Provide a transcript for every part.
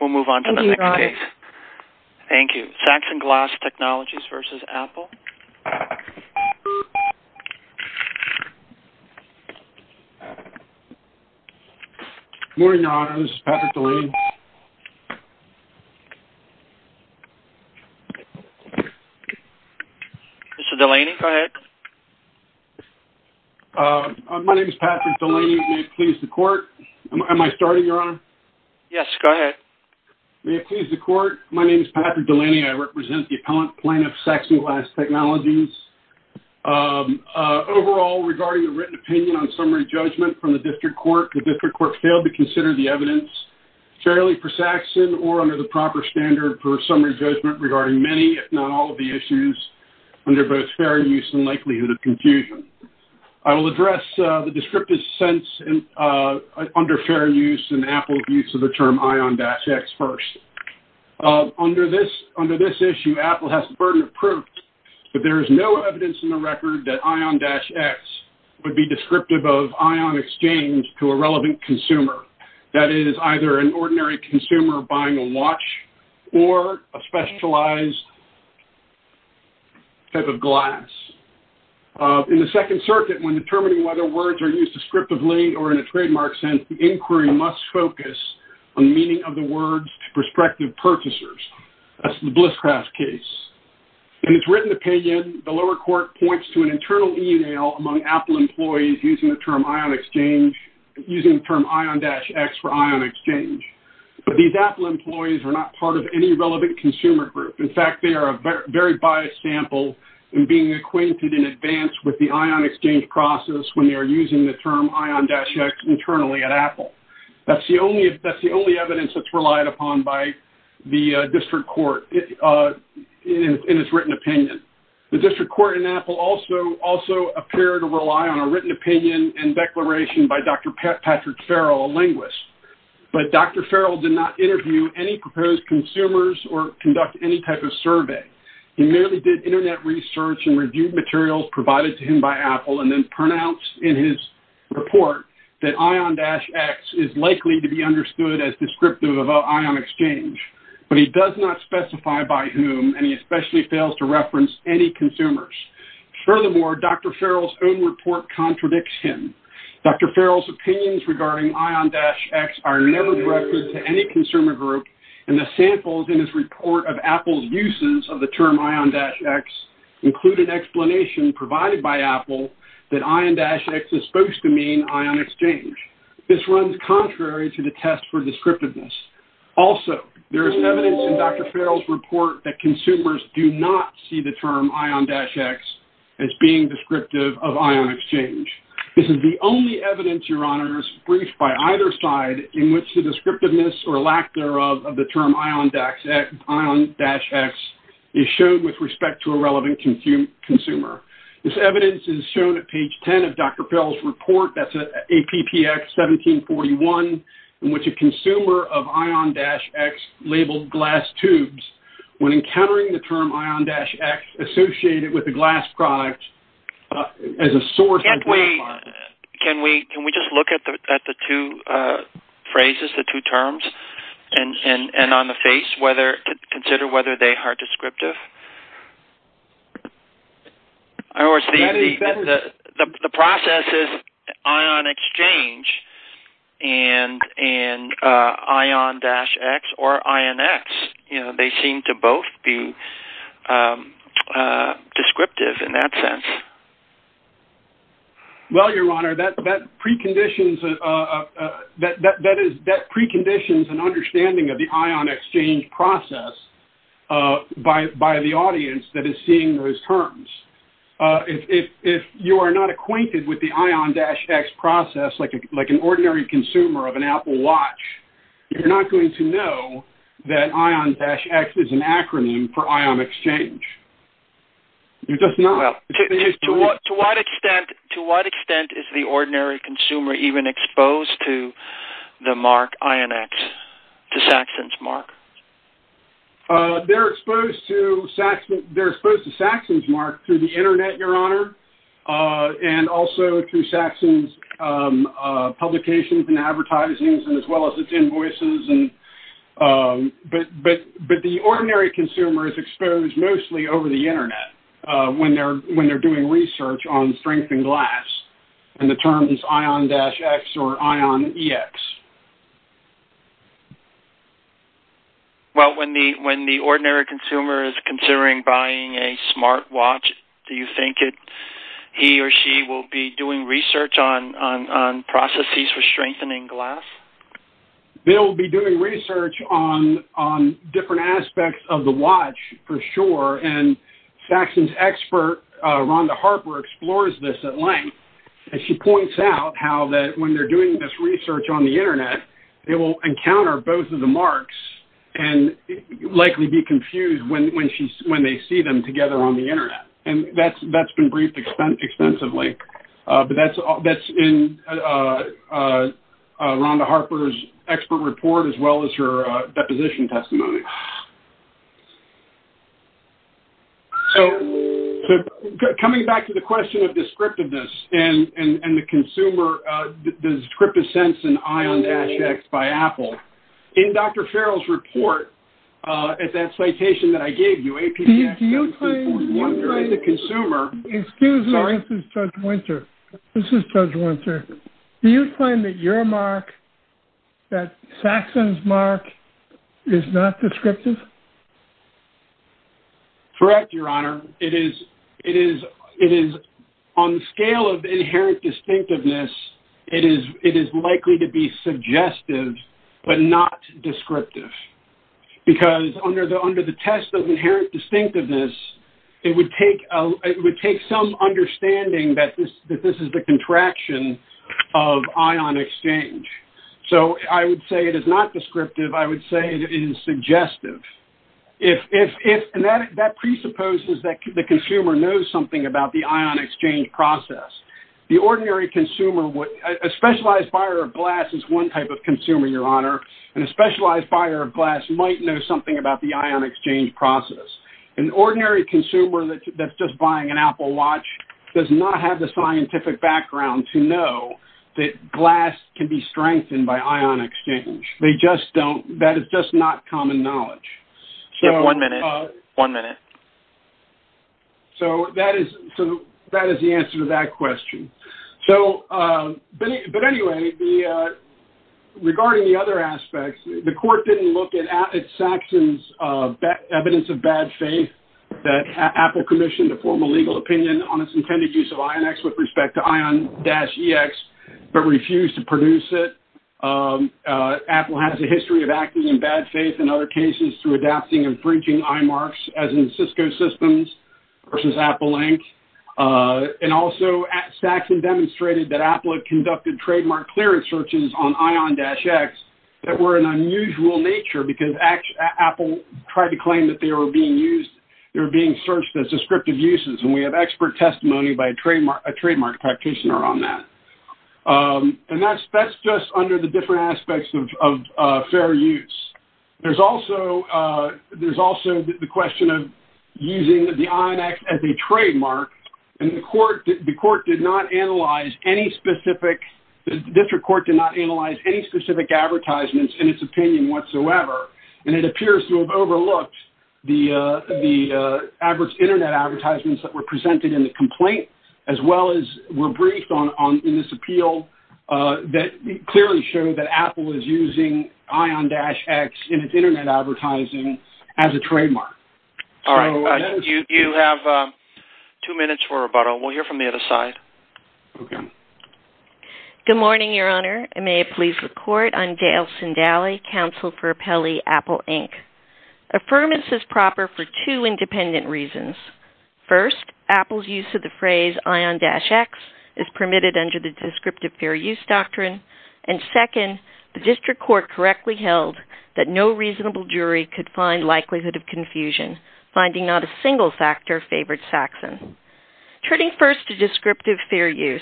We'll move on to the next case. Thank you. Saxon Glass Technologies v. Apple. Good morning, Your Honor. This is Patrick Delaney. Mr. Delaney, go ahead. My name is Patrick Delaney. May it please the court? Am I starting, Your Honor? Yes, go ahead. May it please the court? My name is Patrick Delaney. I represent the appellant plaintiff, Saxon Glass Technologies. Overall, regarding the written opinion on summary judgment from the district court, the district court failed to consider the evidence fairly for Saxon or under the proper standard for summary judgment regarding many, if not all, of the issues under both fair use and likelihood of confusion. I will address the descriptive sense under fair use and Apple's use of the term ION-X first. Under this issue, Apple has the burden of proof that there is no evidence in the record that ION-X would be descriptive of ION exchange to a relevant consumer. That is, either an ordinary consumer buying a watch or a specialized type of glass. In the Second Circuit, when determining whether words are used descriptively or in a trademark sense, the inquiry must focus on the meaning of the words to prospective purchasers. That's the Blisscraft case. In its written opinion, the lower court points to an internal email among Apple employees using the term ION-X for ION exchange. But these Apple employees are not part of any relevant consumer group. In fact, they are a very biased sample in being acquainted in advance with the ION exchange process when they are using the term ION-X internally at Apple. That's the only evidence that's relied upon by the district court in its written opinion. The district court and Apple also appear to rely on a written opinion and declaration by Dr. Patrick Farrell, a linguist. But Dr. Farrell did not interview any proposed consumers or conduct any type of survey. He merely did Internet research and reviewed materials provided to him by Apple and then pronounced in his report that ION-X is likely to be understood as descriptive of ION exchange. But he does not specify by whom, and he especially fails to reference any consumers. Furthermore, Dr. Farrell's own report contradicts him. Dr. Farrell's opinions regarding ION-X are never directed to any consumer group, and the samples in his report of Apple's uses of the term ION-X include an explanation provided by Apple that ION-X is supposed to mean ION exchange. This runs contrary to the test for descriptiveness. Also, there is evidence in Dr. Farrell's report that consumers do not see the term ION-X as being descriptive of ION exchange. This is the only evidence, Your Honors, briefed by either side in which the descriptiveness or lack thereof of the term ION-X is shown with respect to a relevant consumer. This evidence is shown at page 10 of Dr. Farrell's report, that's at APPX 1741, in which a consumer of ION-X labeled glass tubes when encountering the term ION-X associated with a glass product as a source. Can we just look at the two phrases, the two terms, and on the face, consider whether they are descriptive? In other words, the process is ION exchange and ION-X or ION-X. They seem to both be descriptive in that sense. Well, Your Honor, that preconditions an understanding of the ION exchange process by the audience that is seeing those terms. If you are not acquainted with the ION-X process, like an ordinary consumer of an Apple Watch, you're not going to know that ION-X is an acronym for ION exchange. You're just not. To what extent is the ordinary consumer even exposed to the mark ION-X, to Saxon's mark? They're exposed to Saxon's mark through the Internet, Your Honor, and also through Saxon's publications and advertising as well as its invoices. But the ordinary consumer is exposed mostly over the Internet when they're doing research on strengthened glass and the terms ION-X or ION-EX. Well, when the ordinary consumer is considering buying a smart watch, do you think he or she will be doing research on processes for strengthening glass? They'll be doing research on different aspects of the watch for sure, and Saxon's expert, Rhonda Harper, explores this at length. She points out how that when they're doing this research on the Internet, they will encounter both of the marks and likely be confused when they see them together on the Internet. And that's been briefed extensively. But that's in Rhonda Harper's expert report as well as her deposition testimony. So coming back to the question of descriptiveness and the consumer, the descriptive sense in ION-X by Apple, in Dr. Farrell's report at that citation that I gave you, APDS-1.1, Excuse me. This is Judge Winter. This is Judge Winter. Do you find that your mark, that Saxon's mark, is not descriptive? Correct, Your Honor. It is on the scale of inherent distinctiveness, it is likely to be suggestive but not descriptive. Because under the test of inherent distinctiveness, it would take some understanding that this is the contraction of ION exchange. So I would say it is not descriptive. I would say it is suggestive. And that presupposes that the consumer knows something about the ION exchange process. A specialized buyer of glass is one type of consumer, Your Honor, and a specialized buyer of glass might know something about the ION exchange process. An ordinary consumer that is just buying an Apple watch does not have the scientific background to know that glass can be strengthened by ION exchange. That is just not common knowledge. One minute. One minute. So that is the answer to that question. But anyway, regarding the other aspects, the court did not look at Saxon's evidence of bad faith that Apple commissioned to form a legal opinion on its intended use of IONX with respect to ION-EX, but refused to produce it. Apple has a history of acting in bad faith in other cases through adapting and breaching IMARCs, as in Cisco Systems versus Apple Inc. And also, Saxon demonstrated that Apple had conducted trademark clearance searches on ION-X in an unusual nature, because Apple tried to claim that they were being used, they were being searched as descriptive uses, and we have expert testimony by a trademark practitioner on that. And that is just under the different aspects of fair use. There is also the question of using the ION-X as a trademark, and the court did not analyze any specific, the district court did not analyze any specific advertisements in its opinion whatsoever, and it appears to have overlooked the internet advertisements that were presented in the complaint, as well as were briefed in this appeal that clearly showed that Apple was using ION-X in its internet advertising as a trademark. All right. You have two minutes for rebuttal. We'll hear from the other side. Okay. Good morning, Your Honor. May I please record? I'm Dale Sindaly, counsel for Appellee Apple Inc. Affirmance is proper for two independent reasons. First, Apple's use of the phrase ION-X is permitted under the descriptive fair use doctrine, and second, the district court correctly held that no reasonable jury could find likelihood of confusion, finding not a single factor favored Saxon. Turning first to descriptive fair use,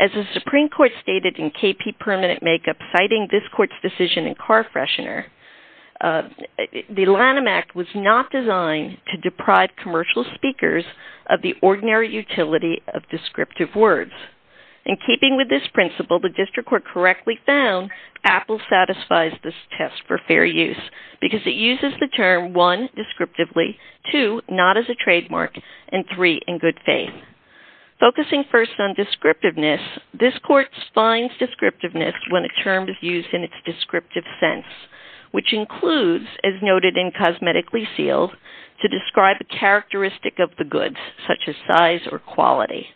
as the Supreme Court stated in KP Permanent Makeup, citing this court's decision in Carfreshener, the Lanham Act was not designed to deprive commercial speakers of the ordinary utility of descriptive words. In keeping with this principle, the district court correctly found Apple satisfies this test for fair use, because it uses the term, one, descriptively, two, not as a trademark, and three, in good faith. Focusing first on descriptiveness, this court finds descriptiveness when a term is used in its descriptive sense, which includes, as noted in Cosmetically Sealed, to describe a characteristic of the goods, such as size or quality.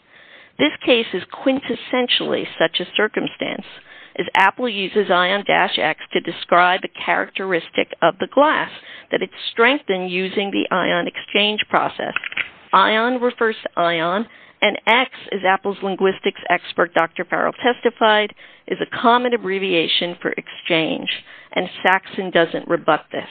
This case is quintessentially such a circumstance, as Apple uses ION-X to describe a characteristic of the glass, that it's strengthened using the ION exchange process. ION refers to ION, and X, as Apple's linguistics expert Dr. Farrell testified, is a common abbreviation for exchange, and Saxon doesn't rebut this.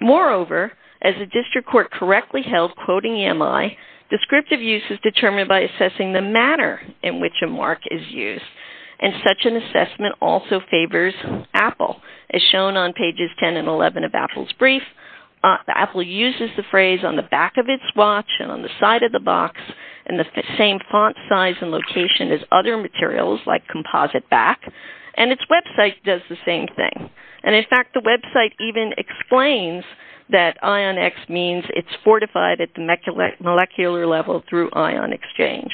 Moreover, as the district court correctly held, quoting EMI, descriptive use is determined by assessing the manner in which a mark is used, and such an assessment also favors Apple. As shown on pages 10 and 11 of Apple's brief, Apple uses the phrase on the back of its watch, and on the side of the box, in the same font size and location as other materials, like composite back, and its website does the same thing. And in fact, the website even explains that ION-X means it's fortified at the molecular level through ION exchange.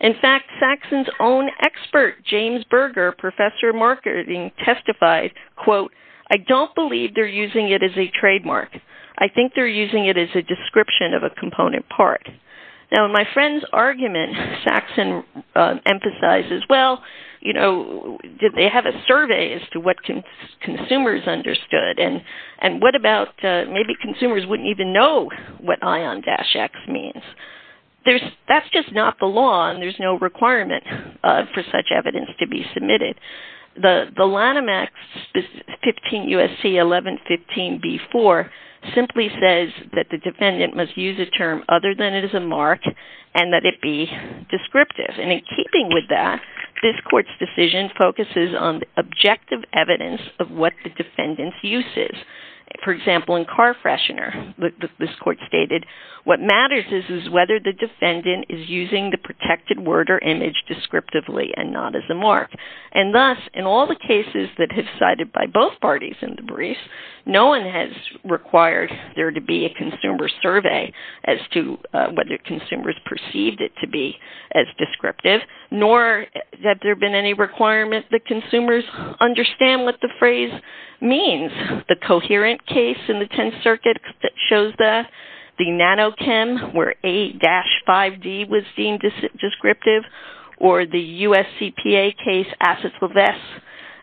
In fact, Saxon's own expert, James Berger, professor of marketing, testified, quote, I don't believe they're using it as a trademark. I think they're using it as a description of a component part. Now, in my friend's argument, Saxon emphasizes, well, you know, did they have a survey as to what consumers understood, and what about, maybe consumers wouldn't even know what ION-X means. That's just not the law, and there's no requirement for such evidence to be submitted. The Lanham Act, 15 U.S.C. 1115b-4, simply says that the defendant must use a term other than it is a mark, and that it be descriptive. And in keeping with that, this court's decision focuses on the objective evidence of what the defendant's use is. For example, in Carfreshener, this court stated, what matters is whether the defendant is using the protected word or image descriptively, and not as a mark. And thus, in all the cases that have cited by both parties in the briefs, no one has required there to be a consumer survey as to whether consumers perceived it to be as descriptive, nor that there have been any requirements that consumers understand what the phrase means. The coherent case in the Tenth Circuit shows that. The NanoChem, where A-5D was deemed descriptive, or the U.S.C.PA case, Assets of S.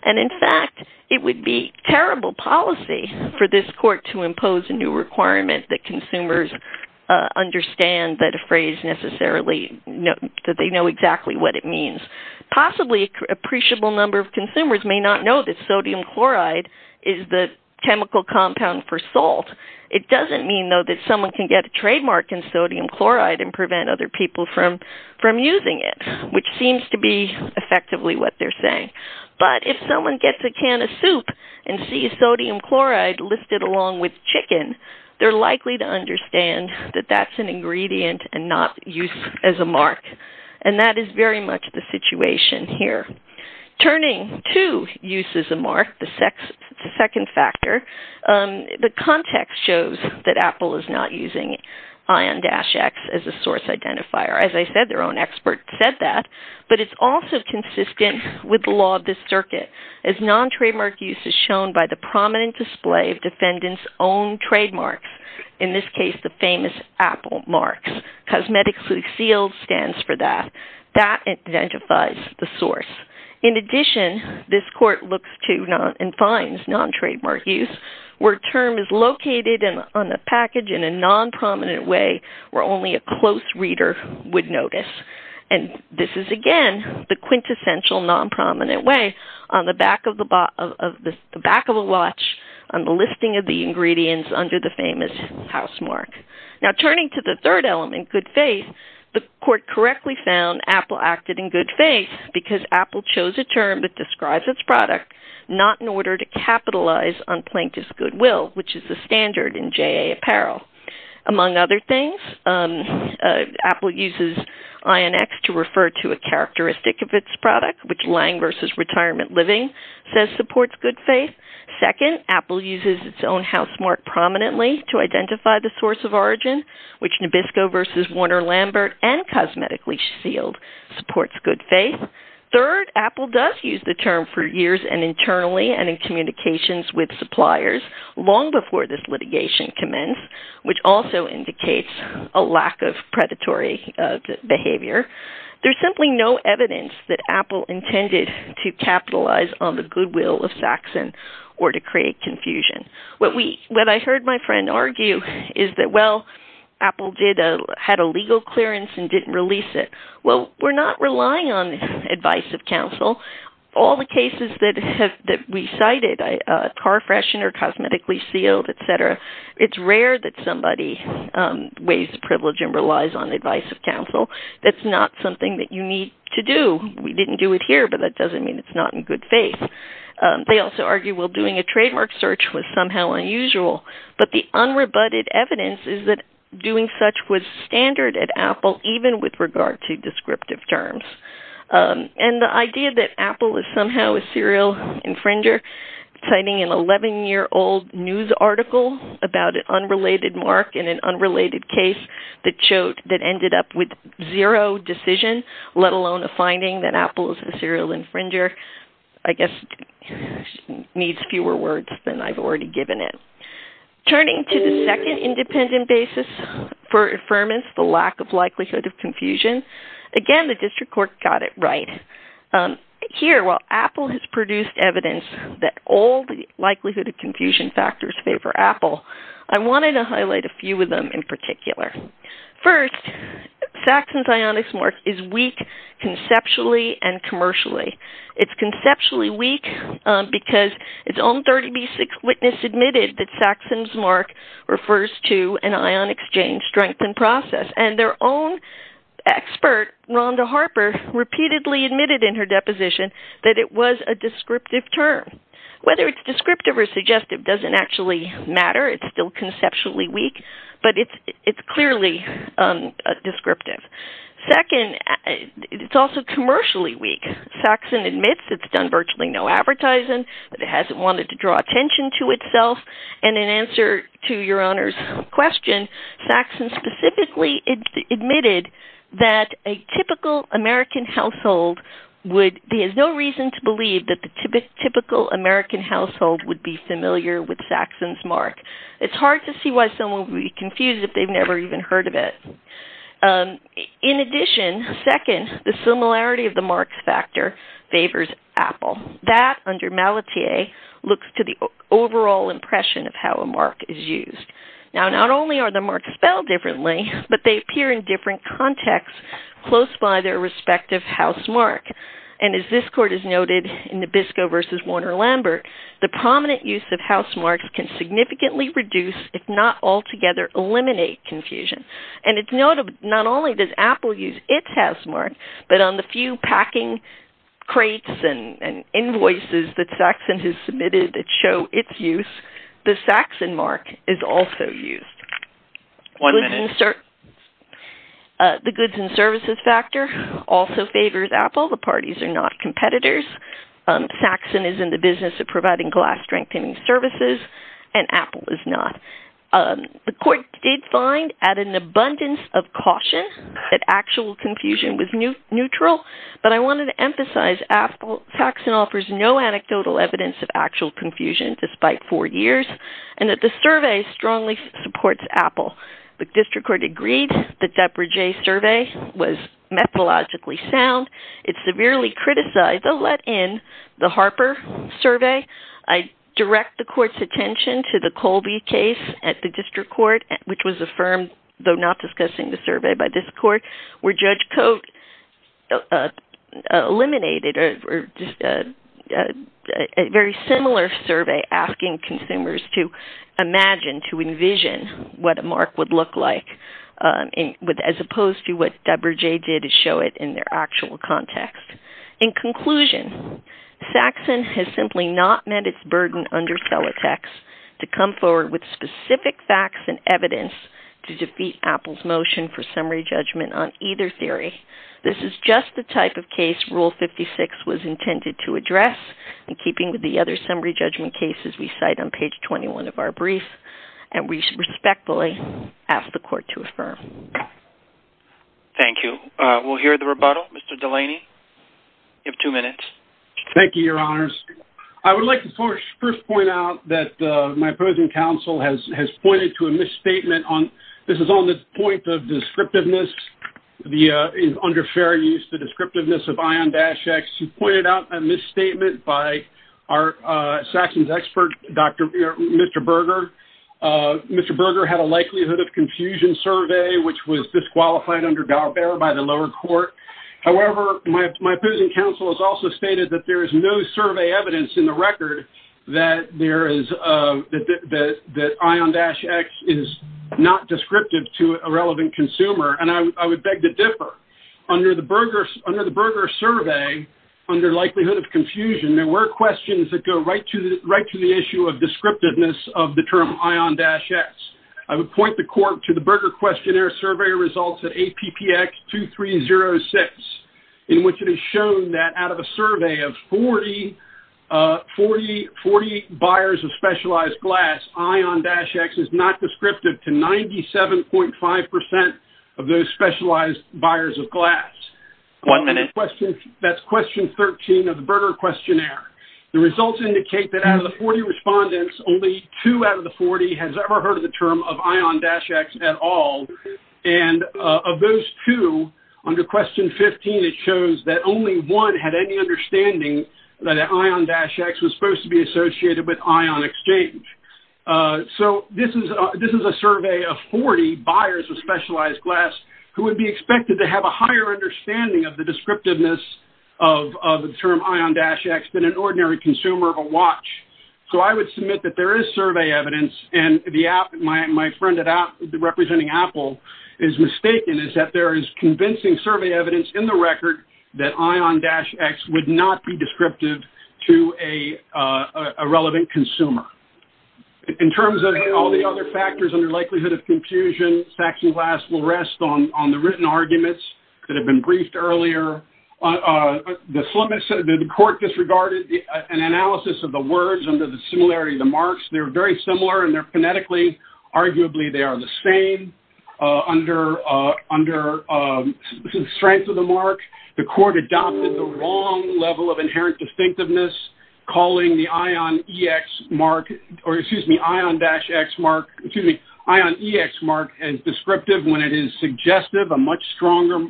And in fact, it would be terrible policy for this court to impose a new requirement that consumers understand that a phrase necessarily, that they know exactly what it means. Possibly, an appreciable number of consumers may not know that sodium chloride is the chemical compound for salt. It doesn't mean, though, that someone can get a trademark in sodium chloride and prevent other people from using it, which seems to be effectively what they're saying. But if someone gets a can of soup and sees sodium chloride listed along with chicken, they're likely to understand that that's an ingredient and not used as a mark. And that is very much the situation here. Turning to use as a mark, the second factor, the context shows that Apple is not using ION-X as a source identifier. As I said, their own expert said that. But it's also consistent with the law of this circuit, as non-trademark use is shown by the prominent display of defendants' own trademarks. In this case, the famous Apple marks. Cosmetically sealed stands for that. That identifies the source. In addition, this court looks to and finds non-trademark use where a term is located on the package in a non-prominent way where only a close reader would notice. And this is, again, the quintessential non-prominent way on the back of a watch on the listing of the ingredients under the famous housemark. Now, turning to the third element, good faith, the court correctly found Apple acted in good faith because Apple chose a term that describes its product, not in order to capitalize on plaintiff's goodwill, which is the standard in JA apparel. Among other things, Apple uses ION-X to refer to a characteristic of its product, which Lange versus Retirement Living says supports good faith. Second, Apple uses its own housemark prominently to identify the source of origin, which Nabisco versus Warner-Lambert and cosmetically sealed supports good faith. Third, Apple does use the term for years and internally and in communications with suppliers long before this litigation commenced, which also indicates a lack of predatory behavior. There's simply no evidence that Apple intended to capitalize on the goodwill of Saxon or to create confusion. What I heard my friend argue is that, well, Apple had a legal clearance and didn't release it. Well, we're not relying on advice of counsel. All the cases that we cited, car freshener, cosmetically sealed, et cetera, it's rare that somebody weighs privilege and relies on advice of counsel. That's not something that you need to do. We didn't do it here, but that doesn't mean it's not in good faith. They also argue, well, doing a trademark search was somehow unusual, but the unrebutted evidence is that doing such was standard at Apple, even with regard to descriptive terms. And the idea that Apple is somehow a serial infringer, citing an 11-year-old news article about an unrelated mark in an unrelated case that ended up with zero decision, let alone a finding that Apple is a serial infringer, I guess needs fewer words than I've already given it. Turning to the second independent basis for affirmance, the lack of likelihood of confusion, again, the district court got it right. Here, while Apple has produced evidence that all the likelihood of confusion factors favor Apple, I wanted to highlight a few of them in particular. First, Saxon's ionics mark is weak conceptually and commercially. It's conceptually weak because its own 30B6 witness admitted that Saxon's mark refers to an ionic exchange strength and process, and their own expert, Rhonda Harper, repeatedly admitted in her deposition that it was a descriptive term. Whether it's descriptive or suggestive doesn't actually matter. It's still conceptually weak, but it's clearly descriptive. Second, it's also commercially weak. Saxon admits it's done virtually no advertising, but it hasn't wanted to draw attention to itself, and in answer to your Honor's question, Saxon specifically admitted that a typical American household has no reason to believe that the typical American household would be familiar with Saxon's mark. It's hard to see why someone would be confused if they've never even heard of it. In addition, second, the similarity of the marks factor favors Apple. That, under Malatier, looks to the overall impression of how a mark is used. Now, not only are the marks spelled differently, but they appear in different contexts close by their respective house mark, and as this court has noted in Nabisco versus Warner-Lambert, the prominent use of house marks can significantly reduce, if not altogether eliminate confusion, and as noted, not only does Apple use its house mark, but on the few packing crates and invoices that Saxon has submitted that show its use, the Saxon mark is also used. One minute. The goods and services factor also favors Apple. The parties are not competitors. Saxon is in the business of providing glass strengthening services, and Apple is not. The court did find, at an abundance of caution, that actual confusion was neutral, but I wanted to emphasize that Saxon offers no anecdotal evidence of actual confusion, despite four years, and that the survey strongly supports Apple. The district court agreed that DepreJay's survey was methodologically sound. It severely criticized, though let in, the Harper survey. I direct the court's attention to the Colby case at the district court, which was affirmed, though not discussing the survey by this court, where Judge Cote eliminated a very similar survey, asking consumers to imagine, to envision, what a mark would look like, as opposed to what DepreJay did to show it in their actual context. In conclusion, Saxon has simply not met its burden under Celotex to come forward with specific facts and evidence to defeat Apple's motion for summary judgment on either theory. This is just the type of case Rule 56 was intended to address, in keeping with the other summary judgment cases we cite on page 21 of our brief, and we respectfully ask the court to affirm. Thank you. We'll hear the rebuttal. Mr. Delaney, you have two minutes. Thank you, Your Honors. I would like to first point out that my opposing counsel has pointed to a misstatement on, this is on the point of descriptiveness, under fair use, the descriptiveness of ION-X. He pointed out a misstatement by our Saxon's expert, Mr. Berger. Mr. Berger had a likelihood of confusion survey, which was disqualified under Dogbear by the lower court. However, my opposing counsel has also stated that there is no survey evidence in the record that ION-X is not descriptive to a relevant consumer, and I would beg to differ. Under the Berger survey, under likelihood of confusion, there were questions that go right to the issue of descriptiveness of the term ION-X. I would point the court to the Berger questionnaire survey results at APPX 2306, in which it is shown that out of a survey of 40 buyers of specialized glass, ION-X is not descriptive to 97.5% of those specialized buyers of glass. One minute. That's question 13 of the Berger questionnaire. The results indicate that out of the 40 respondents, only two out of the 40 has ever heard of the term of ION-X at all. And of those two, under question 15, it shows that only one had any understanding that ION-X was supposed to be associated with ION Exchange. So this is a survey of 40 buyers of specialized glass who would be expected to have a higher understanding of the descriptiveness of the term ION-X than an ordinary consumer of a watch. So I would submit that there is survey evidence, and my friend representing Apple is mistaken, is that there is convincing survey evidence in the record that ION-X would not be descriptive to a relevant consumer. In terms of all the other factors under likelihood of confusion, faxing glass will rest on the written arguments that have been briefed earlier. The court disregarded an analysis of the words under the similarity of the marks. They are phonetically, arguably they are the same. Under strength of the mark, the court adopted the wrong level of inherent distinctiveness, calling the ION-X mark as descriptive when it is suggestive, a much stronger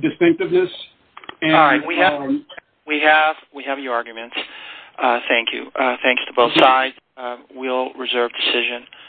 distinctiveness. All right, we have your arguments. Thank you. We will reserve decision.